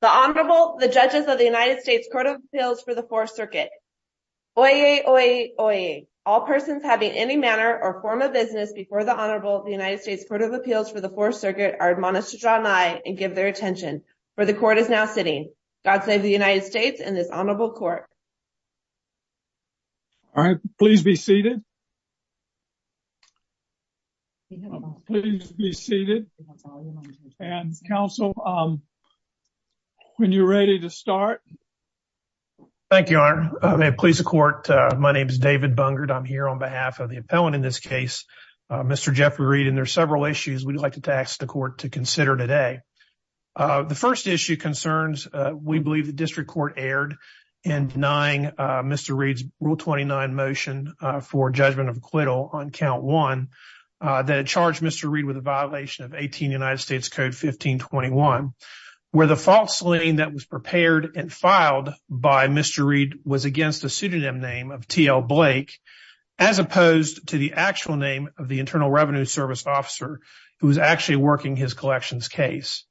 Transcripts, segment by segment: The Honorable, the Judges of the United States Court of Appeals for the Fourth Circuit. Oyez! Oyez! Oyez! All persons having any manner or form of business before the Honorable of the United States Court of Appeals for the Fourth Circuit are admonished to draw nigh and give their attention, for the Court is now sitting. God save the United States and this Honorable Court. All right, please be seated. Please be seated and counsel. When you're ready to start. Thank you. May it please the court. My name is David Bungard. I'm here on behalf of the appellant in this case, Mr. Jeffrey Reed and there's several issues we'd like to ask the court to consider today. The first issue concerns, we believe, the district court erred in denying Mr. Reed's Rule 29 motion for judgment of acquittal on Count 1 that charged Mr. Reed with a violation of 18 United States Code 1521, where the false slinging that was prepared and filed by Mr. Reed was against the pseudonym name of T.L. Blake, as opposed to the actual name of the Internal Revenue Service officer who was actually working his collections case.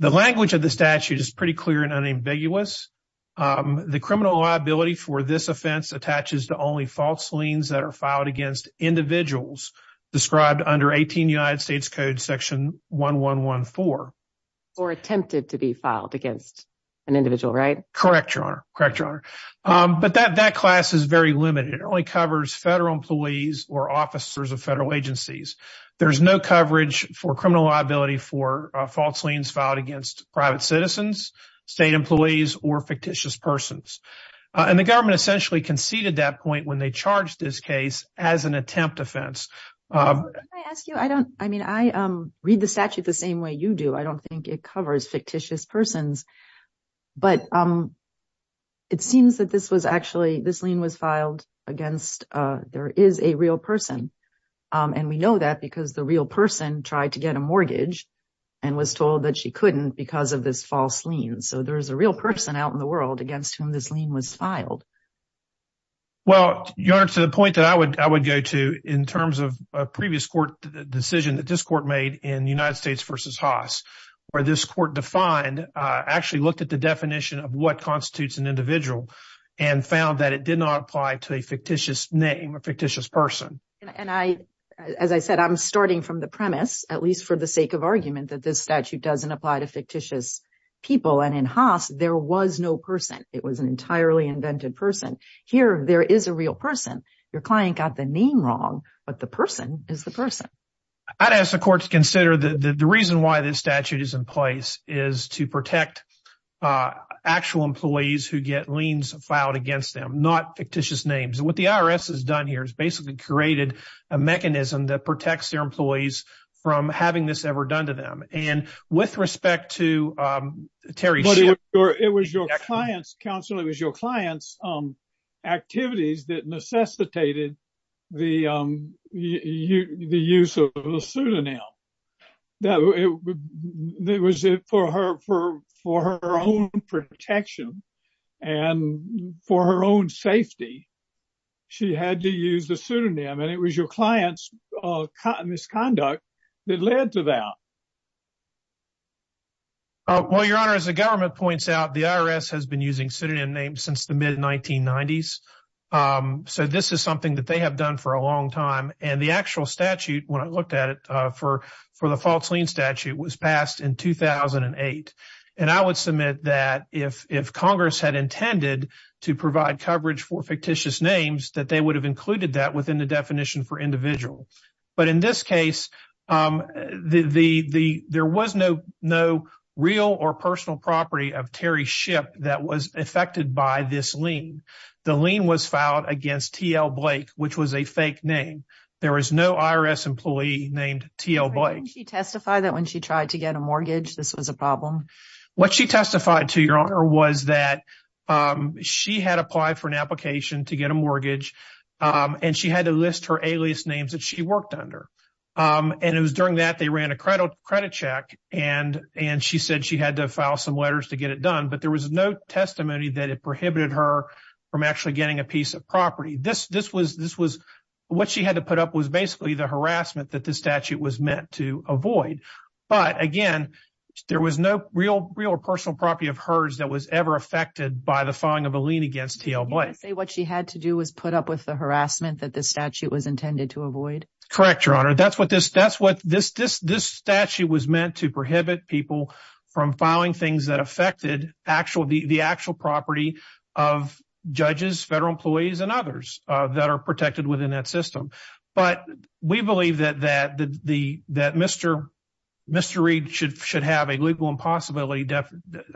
The language of the statute is pretty clear and unambiguous. The criminal liability for this offense attaches to only false slings that are filed against individuals described under 18 United States Code section 1114. Or attempted to be filed against an individual, right? Correct, Your Honor. Correct, Your Honor. But that class is very limited. It only covers federal employees or officers of federal agencies. There's no coverage for criminal liability for false slings filed against private citizens, state employees, or fictitious persons. And the government essentially conceded that point when they charged this case as an attempt offense. I read the statute the same way you do. I don't think it covers fictitious persons. But it seems that this was actually, this lien was filed against, there is a real person. And we know that because the real person tried to get a mortgage and was told that she couldn't because of this false lien. So there's a real person out in the world against whom this lien was filed. Well, Your Honor, to the point that I would go to in terms of a previous court decision that this court made in United States v. Haas, where this court defined, actually looked at the definition of what constitutes an individual and found that it did not apply to a fictitious name, a fictitious person. And I, as I said, I'm starting from the premise, at least for the sake of argument, that this statute doesn't apply to fictitious people. And in Haas, there was no person. It was an entirely invented person. Here, there is a real person. Your client got the name wrong, but the person is the person. I'd ask the court to consider the reason why this statute is in place is to protect actual employees who get liens filed against them, not fictitious names. And what the IRS has done here is basically created a mechanism that protects their employees from having this ever done to them. And with respect to Terry's client's counsel, it was your clients' activities that necessitated the use of the pseudonym. It was for her own protection and for her own safety. She had to use the pseudonym, and it was your clients' misconduct that led to that. Well, Your Honor, as the government points out, the IRS has been using pseudonym names since the mid-1990s. So this is something that they have done for a long time. And the actual statute, when I looked at it for the false lien statute, was passed in 2008. And I would submit that if Congress had intended to provide coverage for fictitious names, that they would have included that within the definition for individual. But in this case, there was no real or personal property of Terry's ship that was affected by this lien. The lien was filed against T.L. Blake, which was a fake name. There was no IRS employee named T.L. Blake. Didn't she testify that when she tried to get a mortgage, this was a problem? But again, there was no real or personal property of hers that was ever affected by the filing of a lien against T.L. Blake. You're saying what she had to do was put up with the harassment that this statute was intended to avoid? Correct, Your Honor. This statute was meant to prohibit people from filing things that affected the actual property of judges, federal employees, and others that are protected within that system. But we believe that Mr. Reed should have a legal impossibility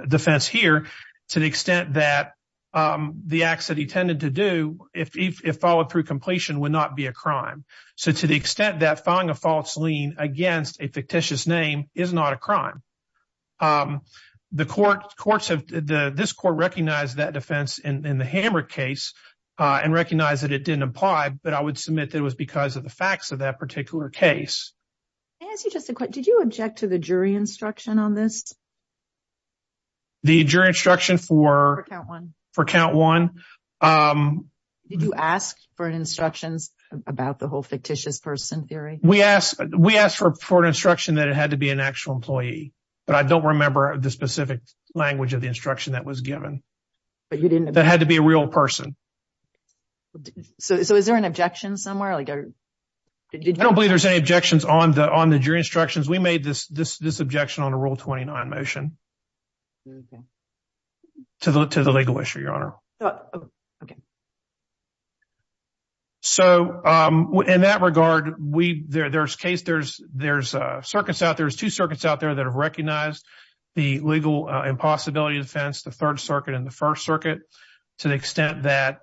defense here to the extent that the acts that he tended to do, if followed through completion, would not be a crime. So to the extent that filing a false lien against a fictitious name is not a crime. This court recognized that defense in the Hamrick case and recognized that it didn't apply, but I would submit that it was because of the facts of that particular case. Did you object to the jury instruction on this? The jury instruction for count one? Did you ask for instructions about the whole fictitious person theory? We asked for an instruction that it had to be an actual employee, but I don't remember the specific language of the instruction that was given. That had to be a real person. So is there an objection somewhere? I don't believe there's any objections on the jury instructions. We made this objection on a Rule 29 motion. To the legal issue, Your Honor. Okay. So in that regard, there's two circuits out there that have recognized the legal impossibility defense, the Third Circuit and the First Circuit, to the extent that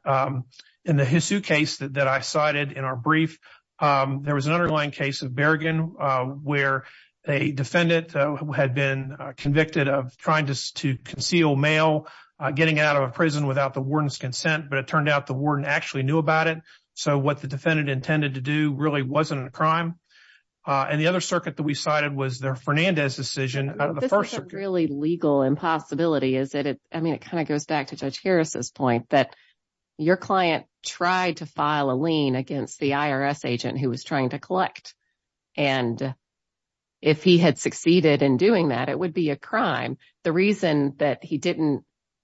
in the Hisu case that I cited in our brief, there was an underlying case of Bergen where a defendant had been convicted of trying to conceal mail getting out of a prison without the warden's consent. But it turned out the warden actually knew about it. So what the defendant intended to do really wasn't a crime. And the other circuit that we cited was their Fernandez decision. This is a really legal impossibility, is it? I mean, it kind of goes back to Judge Harris's point that your client tried to file a lien against the IRS agent who was trying to collect. And if he had succeeded in doing that, it would be a crime. The reason that he didn't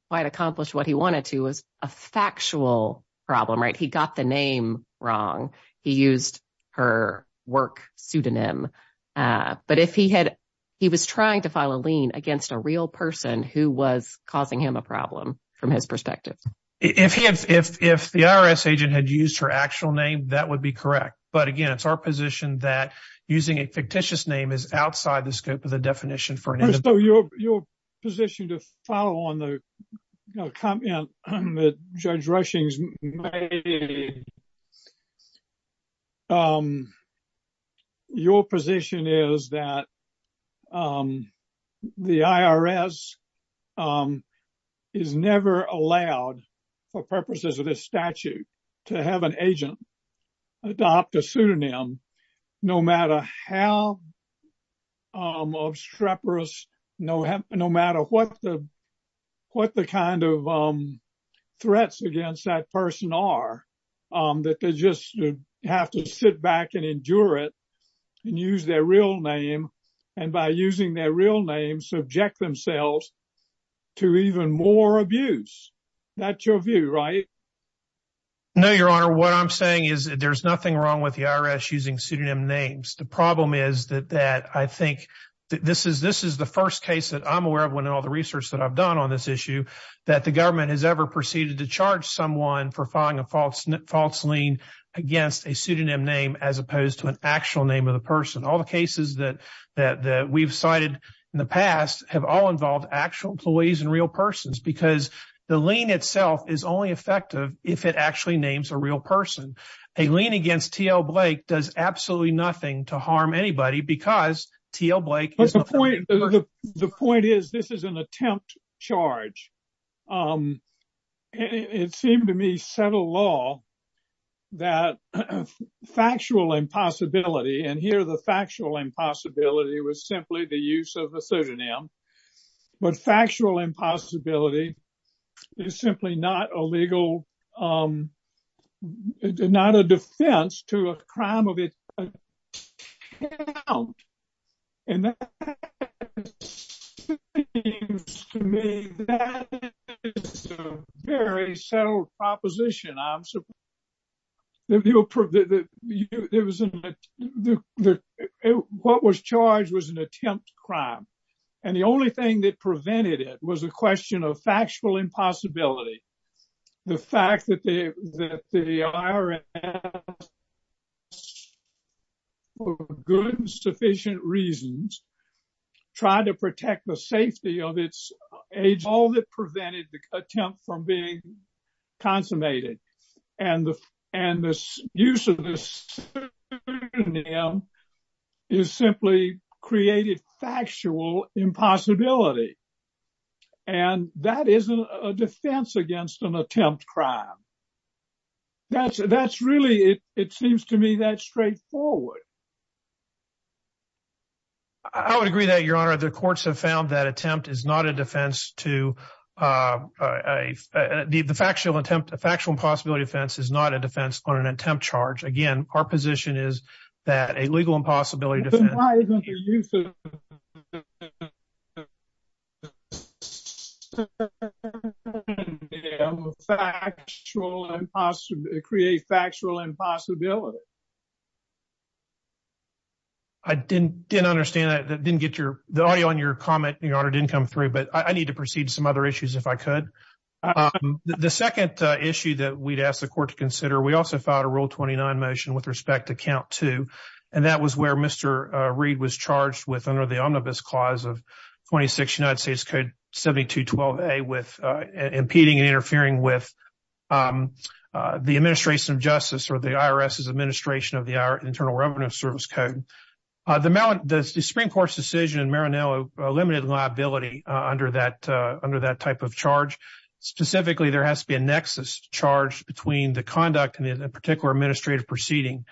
quite accomplish what he wanted to was a factual problem, right? He got the name wrong. He used her work pseudonym. But if he was trying to file a lien against a real person who was causing him a problem from his perspective. If the IRS agent had used her actual name, that would be correct. But again, it's our position that using a fictitious name is outside the scope of the definition for an individual. So your position to follow on the comment that Judge Rushings made. Your position is that the IRS is never allowed for purposes of this statute to have an agent adopt a pseudonym. No matter how obstreperous, no matter what the what the kind of threats against that person are, that they just have to sit back and endure it and use their real name. And by using their real name, subject themselves to even more abuse. That's your view, right? No, Your Honor, what I'm saying is there's nothing wrong with the IRS using pseudonym names. The problem is that I think this is the first case that I'm aware of when all the research that I've done on this issue. That the government has ever proceeded to charge someone for filing a false false lien against a pseudonym name as opposed to an actual name of the person. All the cases that we've cited in the past have all involved actual employees and real persons. Because the lien itself is only effective if it actually names a real person. A lien against T.L. Blake does absolutely nothing to harm anybody because T.L. Blake is the person. The point is this is an attempt charge. It seemed to me, set a law that factual impossibility and here the factual impossibility was simply the use of a pseudonym. But factual impossibility is simply not a legal, not a defense to a crime of account. And that seems to me, that is a very subtle proposition, I'm surprised. What was charged was an attempt crime. And the only thing that prevented it was a question of factual impossibility. The fact that the IRS, for good and sufficient reasons, tried to protect the safety of its agents. All that prevented the attempt from being consummated. And the use of this pseudonym is simply created factual impossibility. And that isn't a defense against an attempt crime. That's really, it seems to me that straightforward. I would agree that, Your Honor, the courts have found that attempt is not a defense to a factual impossibility offense is not a defense on an attempt charge. Again, our position is that a legal impossibility defense. Why isn't the use of a pseudonym create factual impossibility? I didn't understand that. The audio on your comment, Your Honor, didn't come through, but I need to proceed to some other issues if I could. The second issue that we'd ask the court to consider, we also filed a Rule 29 motion with respect to count two. And that was where Mr. Reed was charged with under the Omnibus Clause of 26 United States Code 72-12A with impeding and interfering with the administration of justice or the IRS's administration of the Internal Revenue Service Code. The Supreme Court's decision in Maranello limited liability under that type of charge. Specifically, there has to be a nexus charge between the conduct and the particular administrative proceeding.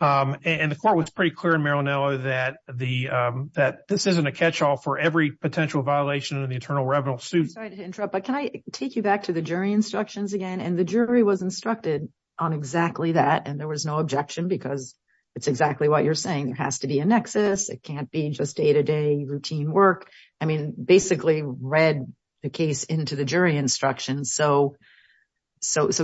And the court was pretty clear in Maranello that this isn't a catch-all for every potential violation of the Internal Revenue Suite. Sorry to interrupt, but can I take you back to the jury instructions again? And the jury was instructed on exactly that, and there was no objection because it's exactly what you're saying. It has to be a nexus. It can't be just day-to-day routine work. I mean, basically read the case into the jury instructions. So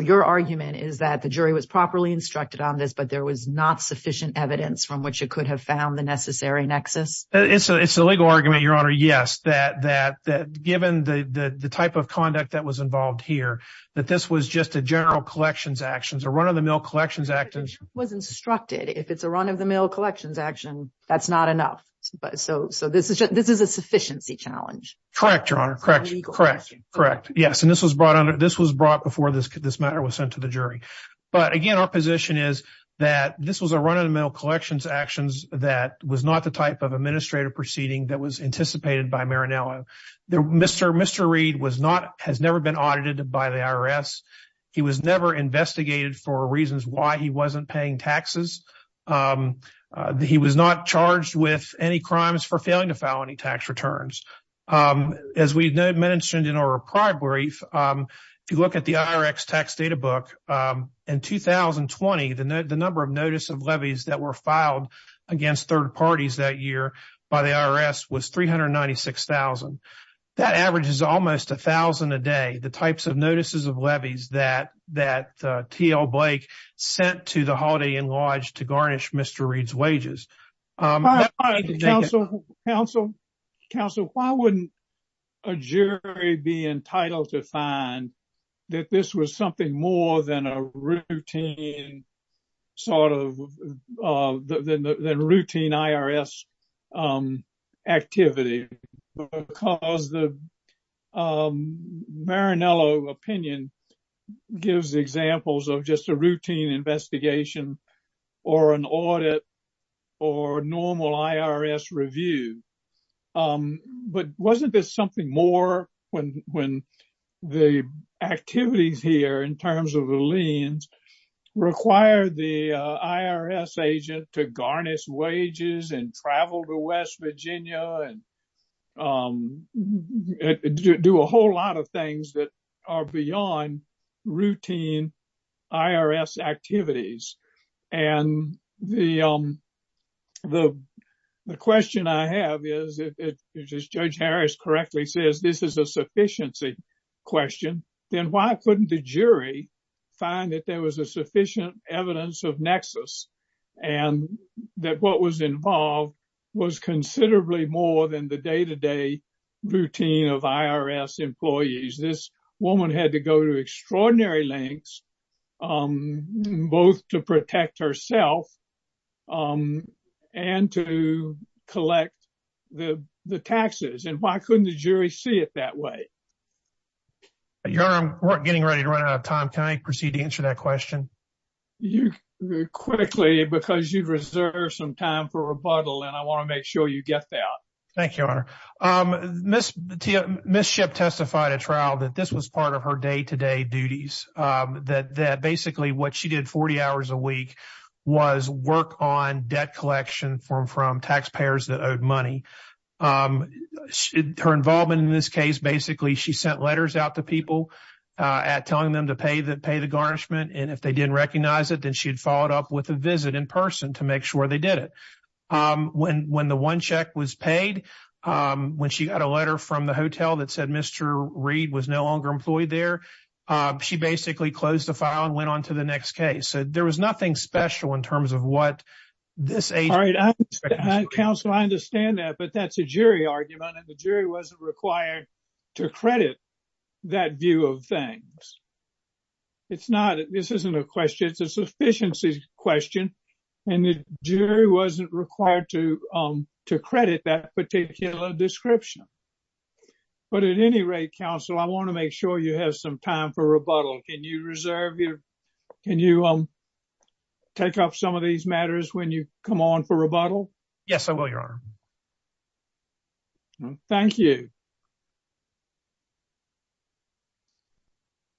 your argument is that the jury was properly instructed on this, but there was not sufficient evidence from which it could have found the necessary nexus? It's a legal argument, Your Honor, yes, that given the type of conduct that was involved here, that this was just a general collections action, a run-of-the-mill collections action. It was instructed. If it's a run-of-the-mill collections action, that's not enough. So this is a sufficiency challenge. Correct, Your Honor. Correct. Yes, and this was brought before this matter was sent to the jury. But again, our position is that this was a run-of-the-mill collections action that was not the type of administrative proceeding that was anticipated by Marinello. Mr. Reed has never been audited by the IRS. He was never investigated for reasons why he wasn't paying taxes. He was not charged with any crimes for failing to file any tax returns. As we mentioned in our prior brief, if you look at the IRX tax data book, in 2020, the number of notice of levies that were filed against third parties that year by the IRS was 396,000. That averages almost 1,000 a day, the types of notices of levies that T.L. Blake sent to the Holiday Inn Lodge to garnish Mr. Reed's wages. Counsel, why wouldn't a jury be entitled to find that this was something more than a routine IRS activity? Because the Marinello opinion gives examples of just a routine investigation or an audit or normal IRS review. But wasn't this something more when the activities here in terms of the liens require the IRS agent to garnish wages and travel to West Virginia and do a whole lot of things that are beyond routine IRS activities? And the question I have is, if Judge Harris correctly says this is a sufficiency question, then why couldn't the jury find that there was a sufficient evidence of nexus and that what was involved was considerably more than the day-to-day routine of IRS employees? This woman had to go to extraordinary lengths, both to protect herself and to collect the taxes. And why couldn't the jury see it that way? Your Honor, we're getting ready to run out of time. Can I proceed to answer that question? Quickly, because you've reserved some time for rebuttal, and I want to make sure you get that. Thank you, Your Honor. Ms. Shipp testified at trial that this was part of her day-to-day duties, that basically what she did 40 hours a week was work on debt collection from taxpayers that owed money. Her involvement in this case, basically she sent letters out to people telling them to pay the garnishment, and if they didn't recognize it, then she'd follow it up with a visit in person to make sure they did it. When the one check was paid, when she got a letter from the hotel that said Mr. Reed was no longer employed there, she basically closed the file and went on to the next case. So there was nothing special in terms of what this agency was doing. Counsel, I understand that, but that's a jury argument, and the jury wasn't required to credit that view of things. It's not, this isn't a question, it's a sufficiency question, and the jury wasn't required to credit that particular description. But at any rate, Counsel, I want to make sure you have some time for rebuttal. Can you take up some of these matters when you come on for rebuttal? Yes, I will, Your Honor. Thank you.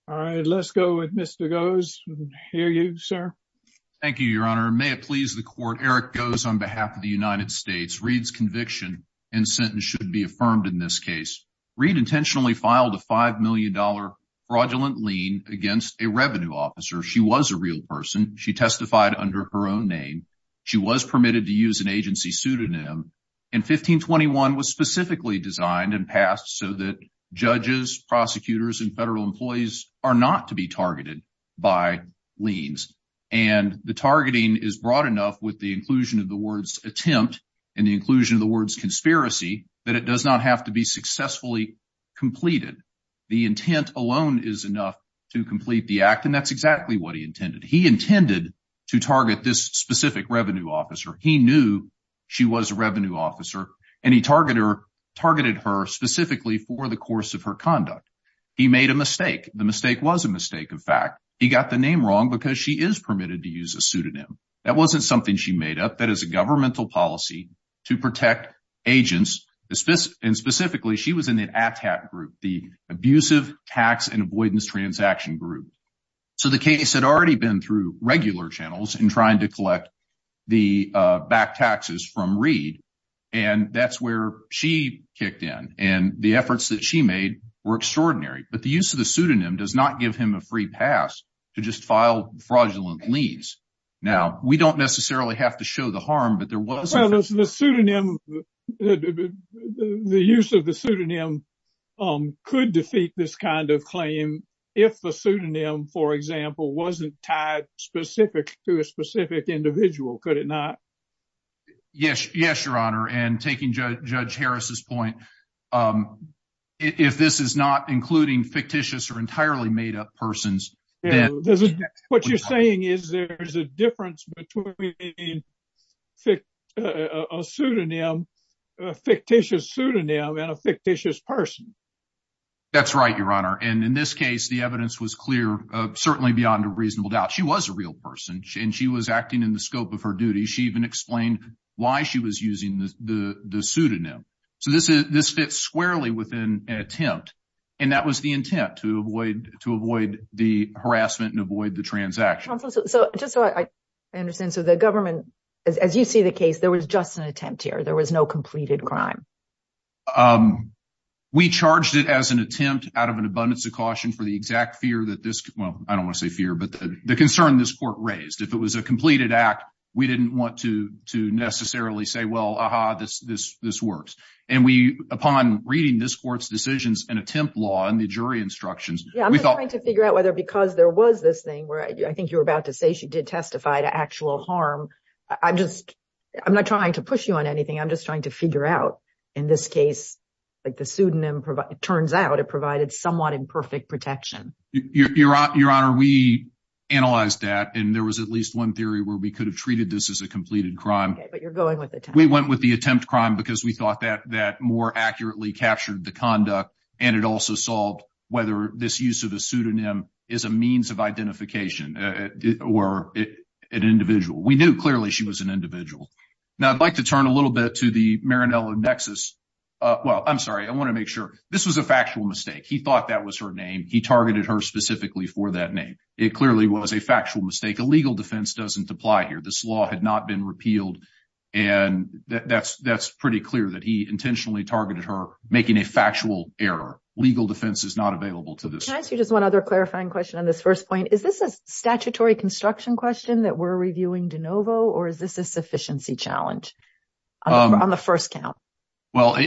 All right, let's go with Mr. Goes. We can hear you, sir. Thank you, Your Honor. May it please the Court, Eric Goes on behalf of the United States. Reed's conviction and sentence should be affirmed in this case. Reed intentionally filed a $5 million fraudulent lien against a revenue officer. She was a real person. She testified under her own name. She was permitted to use an agency pseudonym, and 1521 was specifically designed and passed so that judges, prosecutors, and federal employees are not to be targeted by liens. And the targeting is broad enough with the inclusion of the words attempt and the inclusion of the words conspiracy that it does not have to be successfully completed. The intent alone is enough to complete the act, and that's exactly what he intended. He intended to target this specific revenue officer. He knew she was a revenue officer, and he targeted her specifically for the course of her conduct. He made a mistake. The mistake was a mistake, in fact. He got the name wrong because she is permitted to use a pseudonym. That wasn't something she made up. That is a governmental policy to protect agents, and specifically, she was in the ATTAC group, the Abusive Tax and Avoidance Transaction group. So the case had already been through regular channels in trying to collect the back taxes from Reed, and that's where she kicked in. And the efforts that she made were extraordinary, but the use of the pseudonym does not give him a free pass to just file fraudulent liens. Now, we don't necessarily have to show the harm, but there was the pseudonym. The use of the pseudonym could defeat this kind of claim if the pseudonym, for example, wasn't tied specific to a specific individual, could it not? Yes. Yes, Your Honor. And taking Judge Harris's point, if this is not including fictitious or entirely made up persons. What you're saying is there is a difference between a pseudonym, a fictitious pseudonym, and a fictitious person. That's right, Your Honor. And in this case, the evidence was clear, certainly beyond a reasonable doubt. She was a real person, and she was acting in the scope of her duty. So this fits squarely within an attempt, and that was the intent, to avoid the harassment and avoid the transaction. Counsel, just so I understand, so the government, as you see the case, there was just an attempt here. There was no completed crime. We charged it as an attempt out of an abundance of caution for the exact fear that this, well, I don't want to say fear, but the concern this court raised. If it was a completed act, we didn't want to necessarily say, well, aha, this works. And we, upon reading this court's decisions and attempt law and the jury instructions, we thought… Yeah, I'm just trying to figure out whether because there was this thing where I think you were about to say she did testify to actual harm. I'm just, I'm not trying to push you on anything. I'm just trying to figure out, in this case, like the pseudonym, it turns out it provided somewhat imperfect protection. Your Honor, we analyzed that, and there was at least one theory where we could have treated this as a completed crime. Okay, but you're going with the… We went with the attempt crime because we thought that that more accurately captured the conduct, and it also solved whether this use of a pseudonym is a means of identification or an individual. We knew clearly she was an individual. Now, I'd like to turn a little bit to the Marinello nexus. Well, I'm sorry. I want to make sure. This was a factual mistake. He thought that was her name. He targeted her specifically for that name. It clearly was a factual mistake. A legal defense doesn't apply here. This law had not been repealed, and that's pretty clear that he intentionally targeted her, making a factual error. Legal defense is not available to this court. Can I ask you just one other clarifying question on this first point? Is this a statutory construction question that we're reviewing de novo, or is this a sufficiency challenge on the first count? Well,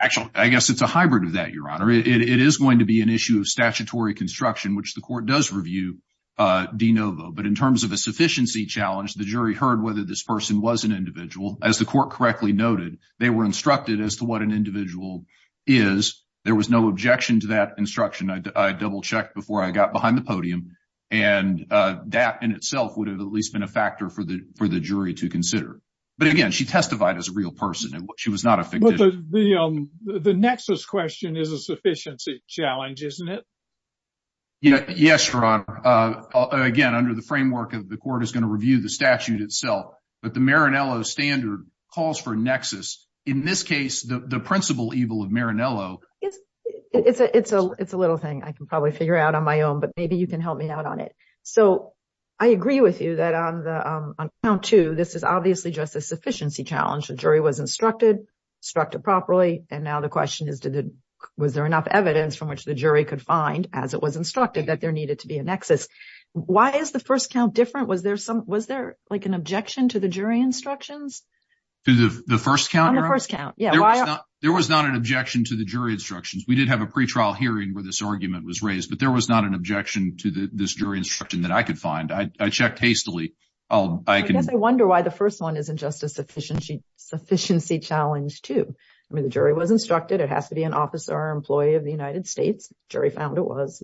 actually, I guess it's a hybrid of that, Your Honor. It is going to be an issue of statutory construction, which the court does review de novo. But in terms of a sufficiency challenge, the jury heard whether this person was an individual. As the court correctly noted, they were instructed as to what an individual is. There was no objection to that instruction. I double-checked before I got behind the podium, and that in itself would have at least been a factor for the jury to consider. But, again, she testified as a real person. She was not a fictitious. So the nexus question is a sufficiency challenge, isn't it? Yes, Your Honor. Again, under the framework of the court is going to review the statute itself. But the Marinello standard calls for a nexus. In this case, the principal evil of Marinello — It's a little thing I can probably figure out on my own, but maybe you can help me out on it. So I agree with you that on count two, this is obviously just a sufficiency challenge. The jury was instructed, instructed properly. And now the question is, was there enough evidence from which the jury could find, as it was instructed, that there needed to be a nexus? Why is the first count different? Was there like an objection to the jury instructions? To the first count, Your Honor? On the first count, yeah. There was not an objection to the jury instructions. We did have a pretrial hearing where this argument was raised. But there was not an objection to this jury instruction that I could find. I checked hastily. I guess I wonder why the first one isn't just a sufficiency challenge, too. I mean, the jury was instructed. It has to be an officer or employee of the United States. The jury found it was.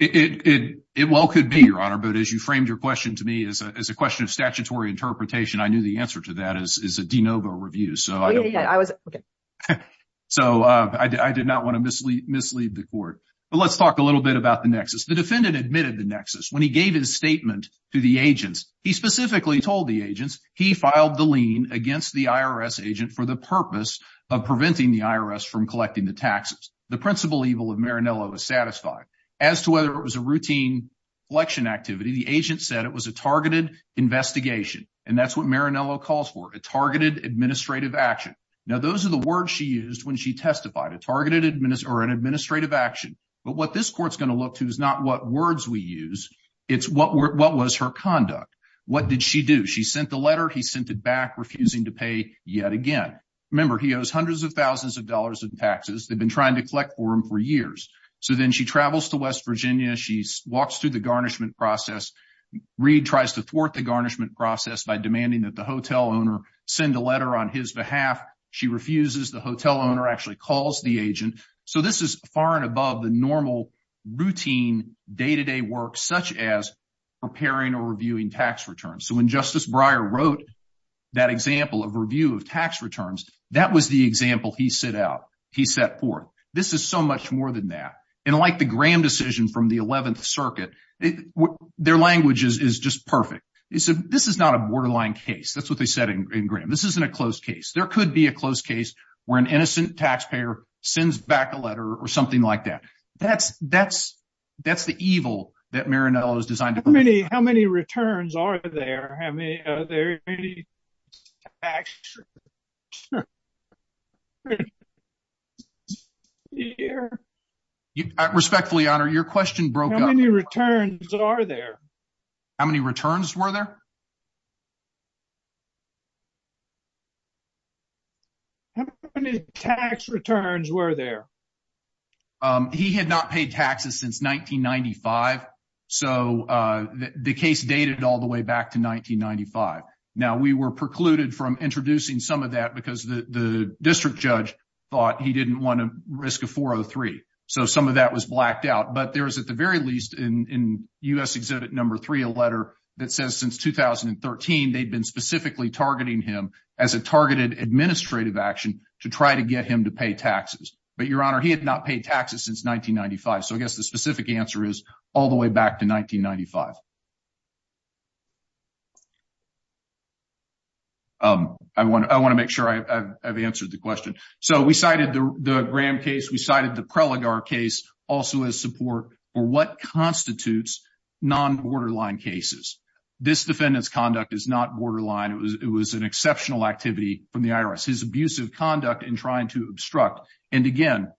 It well could be, Your Honor. But as you framed your question to me as a question of statutory interpretation, I knew the answer to that is a de novo review. So I did not want to mislead the court. But let's talk a little bit about the nexus. The defendant admitted the nexus when he gave his statement to the agents. He specifically told the agents he filed the lien against the IRS agent for the purpose of preventing the IRS from collecting the taxes. The principal evil of Marinello is satisfied. As to whether it was a routine election activity, the agent said it was a targeted investigation. And that's what Marinello calls for, a targeted administrative action. Now, those are the words she used when she testified, a targeted or an administrative action. But what this court's going to look to is not what words we use. It's what what was her conduct. What did she do? She sent the letter. He sent it back, refusing to pay yet again. Remember, he owes hundreds of thousands of dollars in taxes. They've been trying to collect for him for years. So then she travels to West Virginia. She walks through the garnishment process. Reid tries to thwart the garnishment process by demanding that the hotel owner send a letter on his behalf. She refuses. The hotel owner actually calls the agent. So this is far and above the normal routine day-to-day work such as preparing or reviewing tax returns. So when Justice Breyer wrote that example of review of tax returns, that was the example he set out, he set forth. This is so much more than that. And like the Graham decision from the 11th Circuit, their language is just perfect. They said this is not a borderline case. That's what they said in Graham. This isn't a close case. There could be a close case where an innocent taxpayer sends back a letter or something like that. That's the evil that Marinello has designed. How many returns are there? Are there any tax returns here? Respectfully, Your Honor, your question broke up. How many returns are there? How many returns were there? How many tax returns were there? He had not paid taxes since 1995. So the case dated all the way back to 1995. Now, we were precluded from introducing some of that because the district judge thought he didn't want to risk a 403. So some of that was blacked out. But there is, at the very least, in U.S. Exhibit No. 3, a letter that says since 2013 they'd been specifically targeting him as a targeted administrative action to try to get him to pay taxes. But, Your Honor, he had not paid taxes since 1995. So I guess the specific answer is all the way back to 1995. I want to make sure I've answered the question. So we cited the Graham case. We cited the Preligar case also as support for what constitutes non-borderline cases. This defendant's conduct is not borderline. It was an exceptional activity from the IRS, his abusive conduct in trying to obstruct. And, again,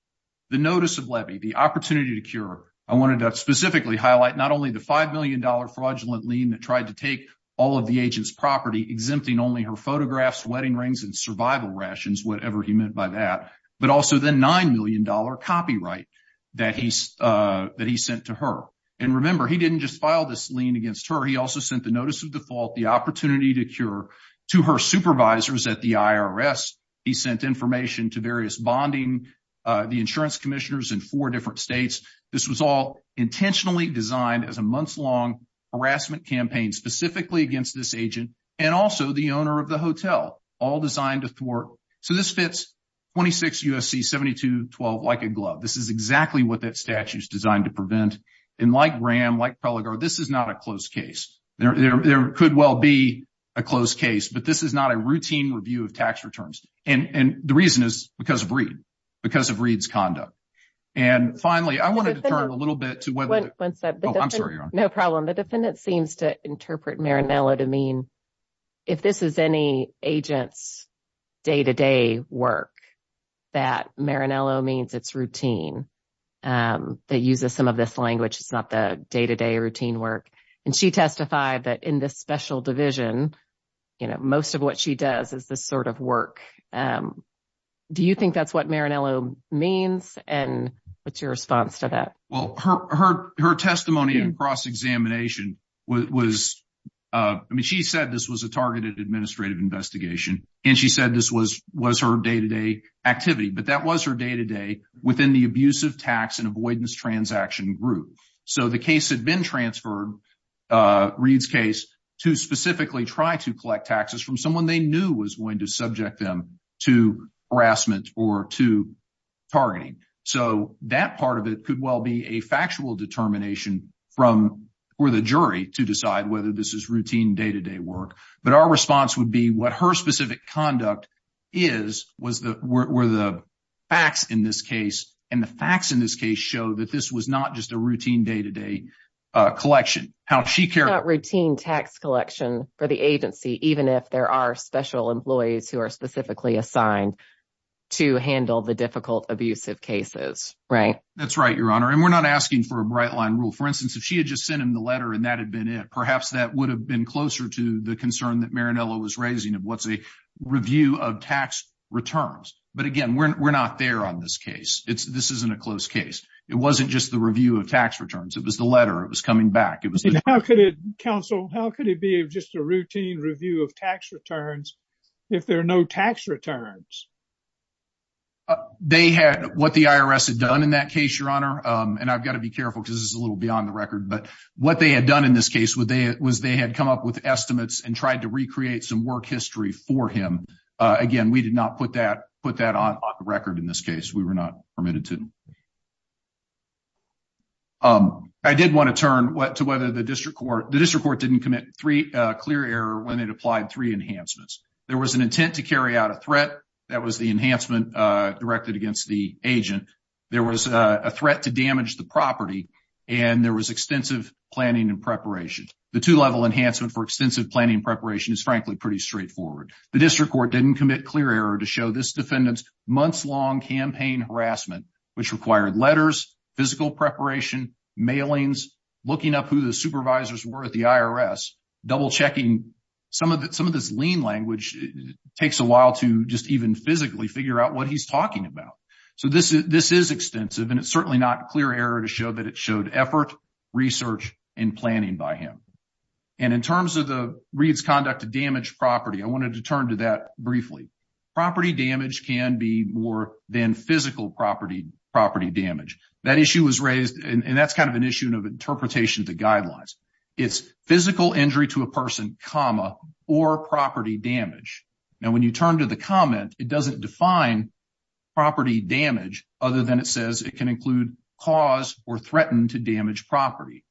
the notice of levy, the opportunity to cure, I wanted to specifically highlight not only the $5 million fraudulent lien that tried to take all of the agent's property, exempting only her photographs, wedding rings, and survival rations, whatever he meant by that, but also the $9 million copyright that he sent to her. And, remember, he didn't just file this lien against her. He also sent the notice of default, the opportunity to cure to her supervisors at the IRS. He sent information to various bonding, the insurance commissioners in four different states. This was all intentionally designed as a months-long harassment campaign specifically against this agent and also the owner of the hotel, all designed to thwart. So this fits 26 U.S.C. 72-12 like a glove. This is exactly what that statute is designed to prevent. And like Graham, like Preligar, this is not a closed case. There could well be a closed case, but this is not a routine review of tax returns. And the reason is because of Reed, because of Reed's conduct. And, finally, I wanted to turn a little bit to whether— One second. Oh, I'm sorry, Your Honor. No problem. The defendant seems to interpret Maranello to mean if this is any agent's day-to-day work, that Maranello means it's routine. They use some of this language. It's not the day-to-day routine work. And she testified that in this special division, you know, most of what she does is this sort of work. Do you think that's what Maranello means? And what's your response to that? Well, her testimony in cross-examination was—I mean, she said this was a targeted administrative investigation. And she said this was her day-to-day activity. But that was her day-to-day within the abusive tax and avoidance transaction group. So the case had been transferred, Reed's case, to specifically try to collect taxes from someone they knew was going to subject them to harassment or to targeting. So that part of it could well be a factual determination from—for the jury to decide whether this is routine day-to-day work. But our response would be what her specific conduct is were the facts in this case. And the facts in this case show that this was not just a routine day-to-day collection. It's not routine tax collection for the agency, even if there are special employees who are specifically assigned to handle the difficult abusive cases, right? That's right, Your Honor. And we're not asking for a bright-line rule. For instance, if she had just sent him the letter and that had been it, perhaps that would have been closer to the concern that Marinello was raising of what's a review of tax returns. But again, we're not there on this case. This isn't a close case. It wasn't just the review of tax returns. It was the letter. It was coming back. Counsel, how could it be just a routine review of tax returns if there are no tax returns? They had—what the IRS had done in that case, Your Honor, and I've got to be careful because this is a little beyond the record, but what they had done in this case was they had come up with estimates and tried to recreate some work history for him. Again, we did not put that on the record in this case. We were not permitted to. I did want to turn to whether the district court—the district court didn't commit three clear error when it applied three enhancements. There was an intent to carry out a threat. That was the enhancement directed against the agent. There was a threat to damage the property, and there was extensive planning and preparation. The two-level enhancement for extensive planning and preparation is, frankly, pretty straightforward. The district court didn't commit clear error to show this defendant's months-long campaign harassment, which required letters, physical preparation, mailings, looking up who the supervisors were at the IRS, double-checking—some of this lean language takes a while to just even physically figure out what he's talking about. So this is extensive, and it's certainly not clear error to show that it showed effort, research, and planning by him. And in terms of Reed's conduct to damage property, I wanted to turn to that briefly. Property damage can be more than physical property damage. That issue was raised, and that's kind of an issue of interpretation of the guidelines. It's physical injury to a person, comma, or property damage. Now, when you turn to the comment, it doesn't define property damage other than it says it can include cause or threaten to damage property.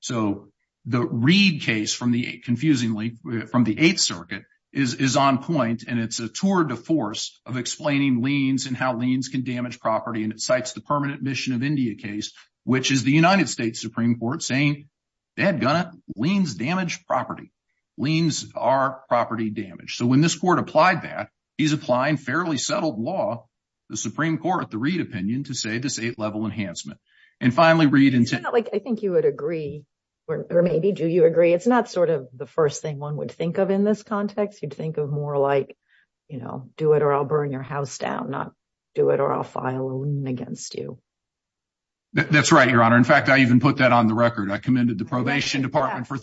So the Reed case, confusingly, from the Eighth Circuit, is on point, and it's a tour de force of explaining liens and how liens can damage property, and it cites the Permanent Mission of India case, which is the United States Supreme Court, saying, that gunna liens damage property. Liens are property damage. So when this court applied that, he's applying fairly settled law, the Supreme Court, the Reed opinion, to say this eight-level enhancement. And finally, Reed— I think you would agree, or maybe do you agree, it's not sort of the first thing one would think of in this context. You'd think of more like, you know, do it or I'll burn your house down, not do it or I'll file a lien against you. That's right, Your Honor. In fact, I even put that on the record. I commended the probation department for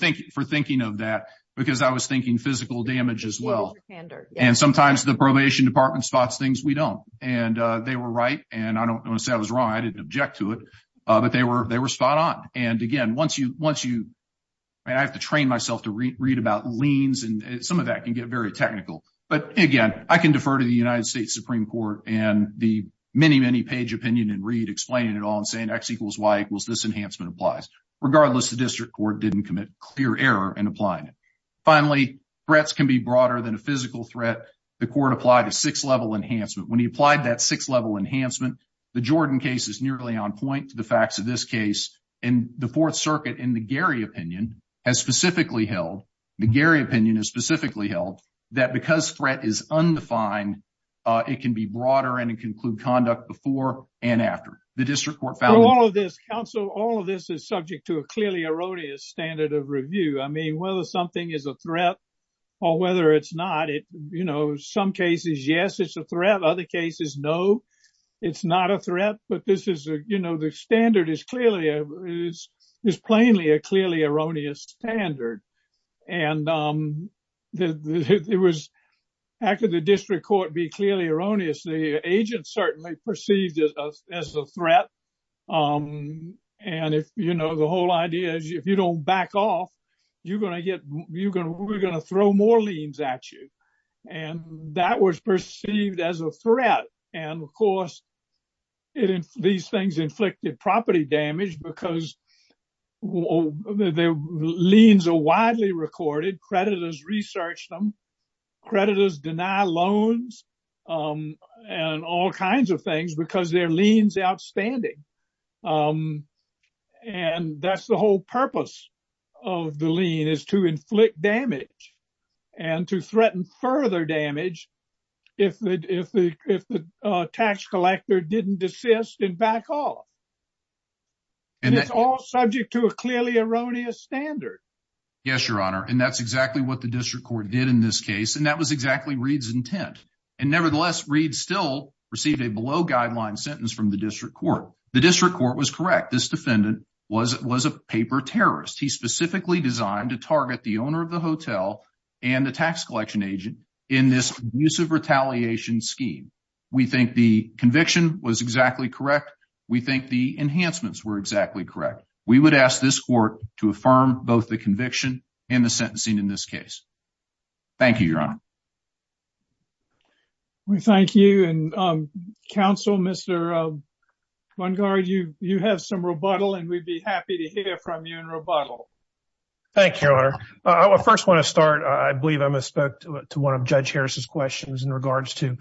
thinking of that because I was thinking physical damage as well. And sometimes the probation department spots things we don't, and they were right. And I don't want to say I was wrong. I didn't object to it, but they were spot on. And again, once you—I have to train myself to read about liens, and some of that can get very technical. But again, I can defer to the United States Supreme Court and the many, many page opinion in Reed explaining it all and saying X equals Y equals this enhancement applies. Regardless, the district court didn't commit clear error in applying it. Finally, threats can be broader than a physical threat. The court applied a six-level enhancement. When he applied that six-level enhancement, the Jordan case is nearly on point to the facts of this case. And the Fourth Circuit, in the Gary opinion, has specifically held—the Gary opinion has specifically held that because threat is undefined, it can be broader and include conduct before and after. The district court found— Through all of this, counsel, all of this is subject to a clearly erroneous standard of review. I mean, whether something is a threat or whether it's not, you know, some cases, yes, it's a threat. Other cases, no, it's not a threat. But this is, you know, the standard is clearly—is plainly a clearly erroneous standard. And it was—how could the district court be clearly erroneous? The agent certainly perceived it as a threat. And if, you know, the whole idea is if you don't back off, you're going to get—we're going to throw more liens at you. And that was perceived as a threat. And, of course, these things inflicted property damage because their liens are widely recorded. Creditors research them. Creditors deny loans and all kinds of things because their lien's outstanding. And that's the whole purpose of the lien is to inflict damage and to threaten further damage if the tax collector didn't desist and back off. And it's all subject to a clearly erroneous standard. Yes, Your Honor. And that's exactly what the district court did in this case. And that was exactly Reed's intent. And, nevertheless, Reed still received a below-guideline sentence from the district court. The district court was correct. This defendant was a paper terrorist. He specifically designed to target the owner of the hotel and the tax collection agent in this abusive retaliation scheme. We think the conviction was exactly correct. We think the enhancements were exactly correct. We would ask this court to affirm both the conviction and the sentencing in this case. Thank you, Your Honor. We thank you. And, counsel, Mr. Lungard, you have some rebuttal, and we'd be happy to hear from you in rebuttal. Thank you, Your Honor. I first want to start, I believe I must go to one of Judge Harris's questions in regards to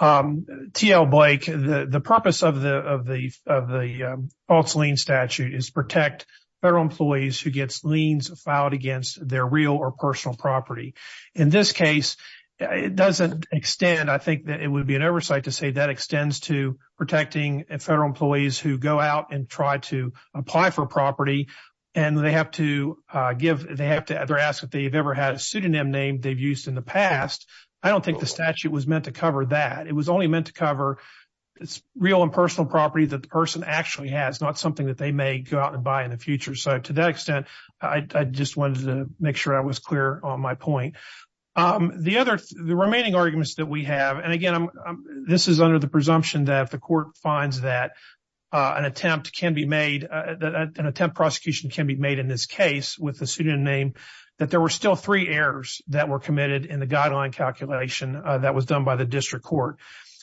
T.L. Blake. The purpose of the false lien statute is to protect federal employees who get liens filed against their real or personal property. In this case, it doesn't extend. I think that it would be an oversight to say that extends to protecting federal employees who go out and try to apply for property, and they have to ask if they've ever had a pseudonym name they've used in the past. I don't think the statute was meant to cover that. It was only meant to cover real and personal property that the person actually has, not something that they may go out and buy in the future. So, to that extent, I just wanted to make sure I was clear on my point. The remaining arguments that we have, and, again, this is under the presumption that if the court finds that an attempt can be made, an attempt prosecution can be made in this case with a pseudonym name, that there were still three errors that were committed in the guideline calculation that was done by the district court.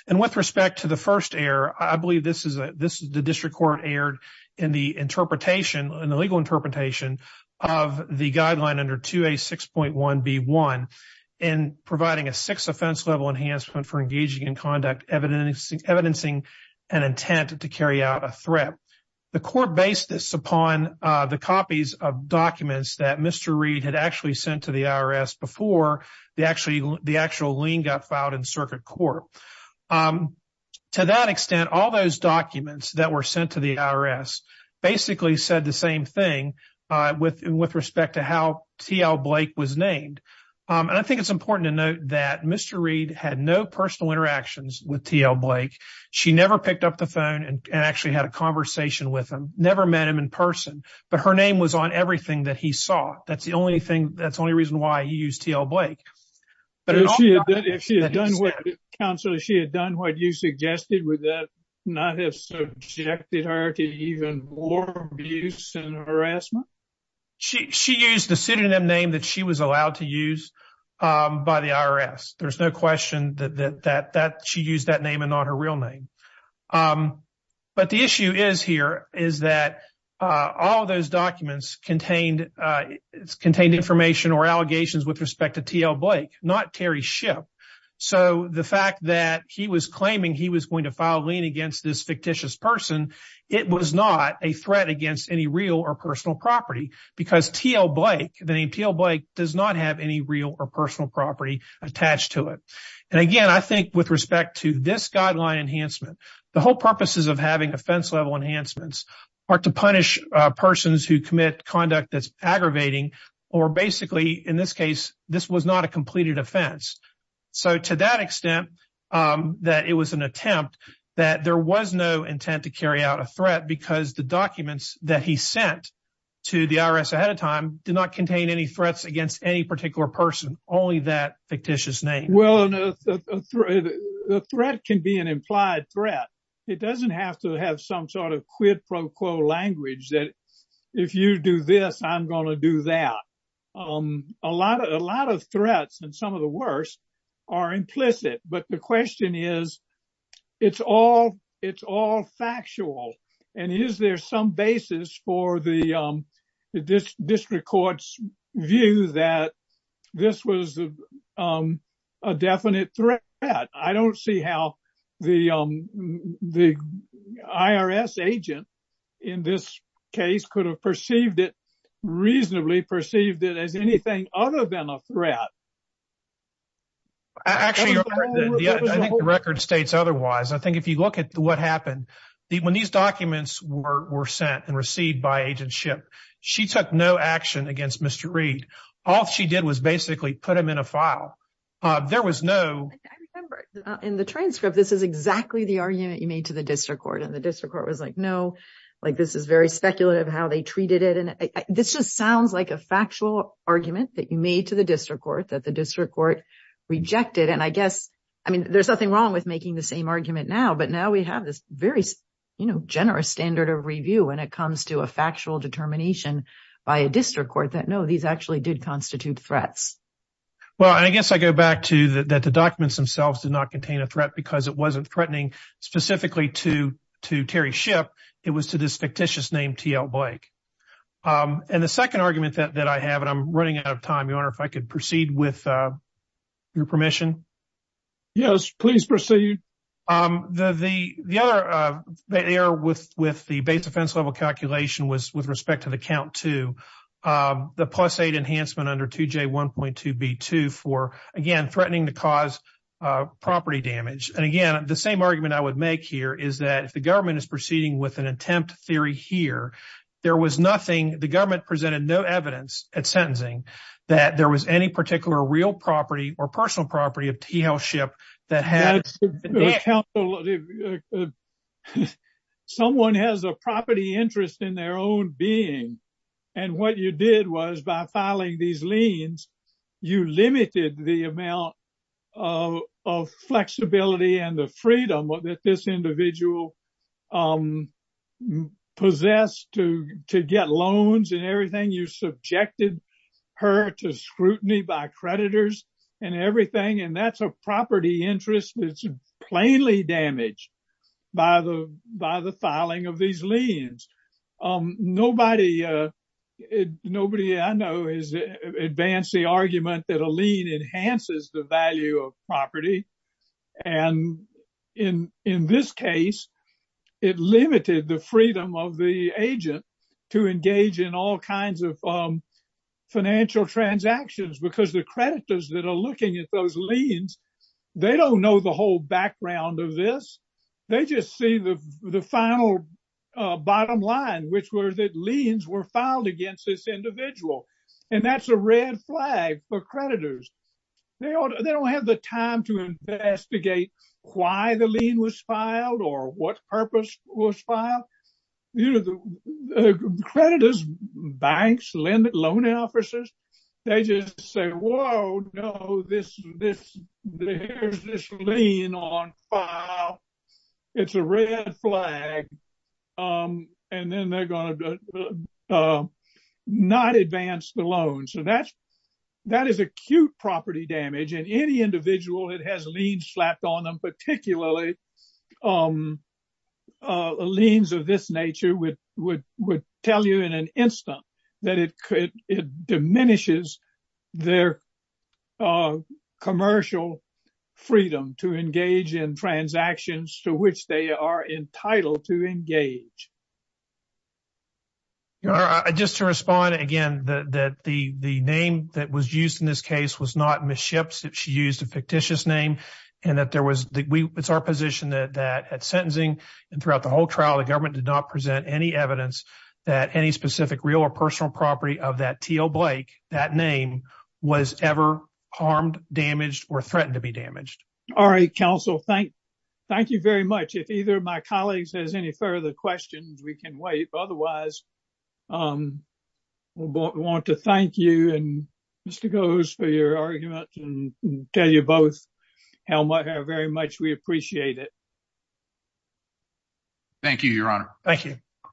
And with respect to the first error, I believe this is the district court error in the interpretation, in the legal interpretation of the guideline under 2A6.1B1 in providing a six offense level enhancement for engaging in conduct, evidencing an intent to carry out a threat. The court based this upon the copies of documents that Mr. before the actual lien got filed in circuit court. To that extent, all those documents that were sent to the IRS basically said the same thing with respect to how T.L. Blake was named. And I think it's important to note that Mr. Reed had no personal interactions with T.L. Blake. She never picked up the phone and actually had a conversation with him, never met him in person. But her name was on everything that he saw. That's the only thing. That's the only reason why he used T.L. Blake. But if she had done what you suggested, would that not have subjected her to even more abuse and harassment? She used the pseudonym name that she was allowed to use by the IRS. There's no question that she used that name and not her real name. But the issue is here is that all of those documents contained information or allegations with respect to T.L. Blake, not Terry Shipp. So the fact that he was claiming he was going to file lien against this fictitious person, it was not a threat against any real or personal property because T.L. Blake, the name T.L. Blake does not have any real or personal property attached to it. And again, I think with respect to this guideline enhancement, the whole purposes of having offense level enhancements are to punish persons who commit conduct that's aggravating or basically, in this case, this was not a completed offense. So to that extent that it was an attempt that there was no intent to carry out a threat because the documents that he sent to the IRS ahead of time did not contain any threats against any particular person, only that fictitious name. Well, the threat can be an implied threat. It doesn't have to have some sort of quid pro quo language that if you do this, I'm going to do that. A lot of threats and some of the worst are implicit. But the question is, it's all factual. And is there some basis for the district court's view that this was a definite threat? I don't see how the IRS agent in this case could have perceived it reasonably perceived it as anything other than a threat. Actually, the record states otherwise. I think if you look at what happened when these documents were sent and received by agent ship, she took no action against Mr. Reid. All she did was basically put him in a file. There was no I remember in the transcript. This is exactly the argument you made to the district court. And the district court was like, no, like, this is very speculative how they treated it. And this just sounds like a factual argument that you made to the district court that the district court rejected. And I guess I mean, there's nothing wrong with making the same argument now. But now we have this very generous standard of review when it comes to a factual determination by a district court that, no, these actually did constitute threats. Well, I guess I go back to that. The documents themselves did not contain a threat because it wasn't threatening specifically to to Terry ship. It was to this fictitious named T.L. Blake. And the second argument that I have, and I'm running out of time, your honor, if I could proceed with your permission. Yes, please proceed. The the the other error with with the base offense level calculation was with respect to the count to the plus eight enhancement under 2J1.2B2 for, again, threatening to cause property damage. And again, the same argument I would make here is that if the government is proceeding with an attempt theory here, there was nothing. The government presented no evidence at sentencing that there was any particular real property or personal property of T.L. ship that had someone has a property interest in their own being. And what you did was by filing these liens, you limited the amount of flexibility and the freedom that this individual possessed to to get loans and everything. You subjected her to scrutiny by creditors and everything. And that's a property interest. It's plainly damaged by the by the filing of these liens. Nobody, nobody I know has advanced the argument that a lien enhances the value of property. And in in this case, it limited the freedom of the agent to engage in all kinds of financial transactions because the creditors that are looking at those liens, they don't know the whole background of this. They just see the the final bottom line, which were that liens were filed against this individual. And that's a red flag for creditors. They don't have the time to investigate why the lien was filed or what purpose was filed. Creditors, banks, loan officers, they just say, whoa, no, this, this, there's this lien on file. It's a red flag. And then they're going to not advance the loan. So that's that is acute property damage. And any individual that has liens slapped on them, particularly liens of this nature, would would would tell you in an instant that it could it diminishes their commercial freedom to engage in transactions to which they are entitled to engage. Just to respond, again, that the the name that was used in this case was not Ms. Shipps. She used a fictitious name and that there was it's our position that at sentencing and throughout the whole trial, the government did not present any evidence that any specific real or personal property of that Teal Blake, that name was ever harmed, damaged or threatened to be damaged. All right, counsel, thank thank you very much. If either of my colleagues has any further questions, we can wait. Otherwise, I want to thank you and Mr. Gose for your argument and tell you both how much how very much we appreciate it. Thank you, Your Honor. Thank you.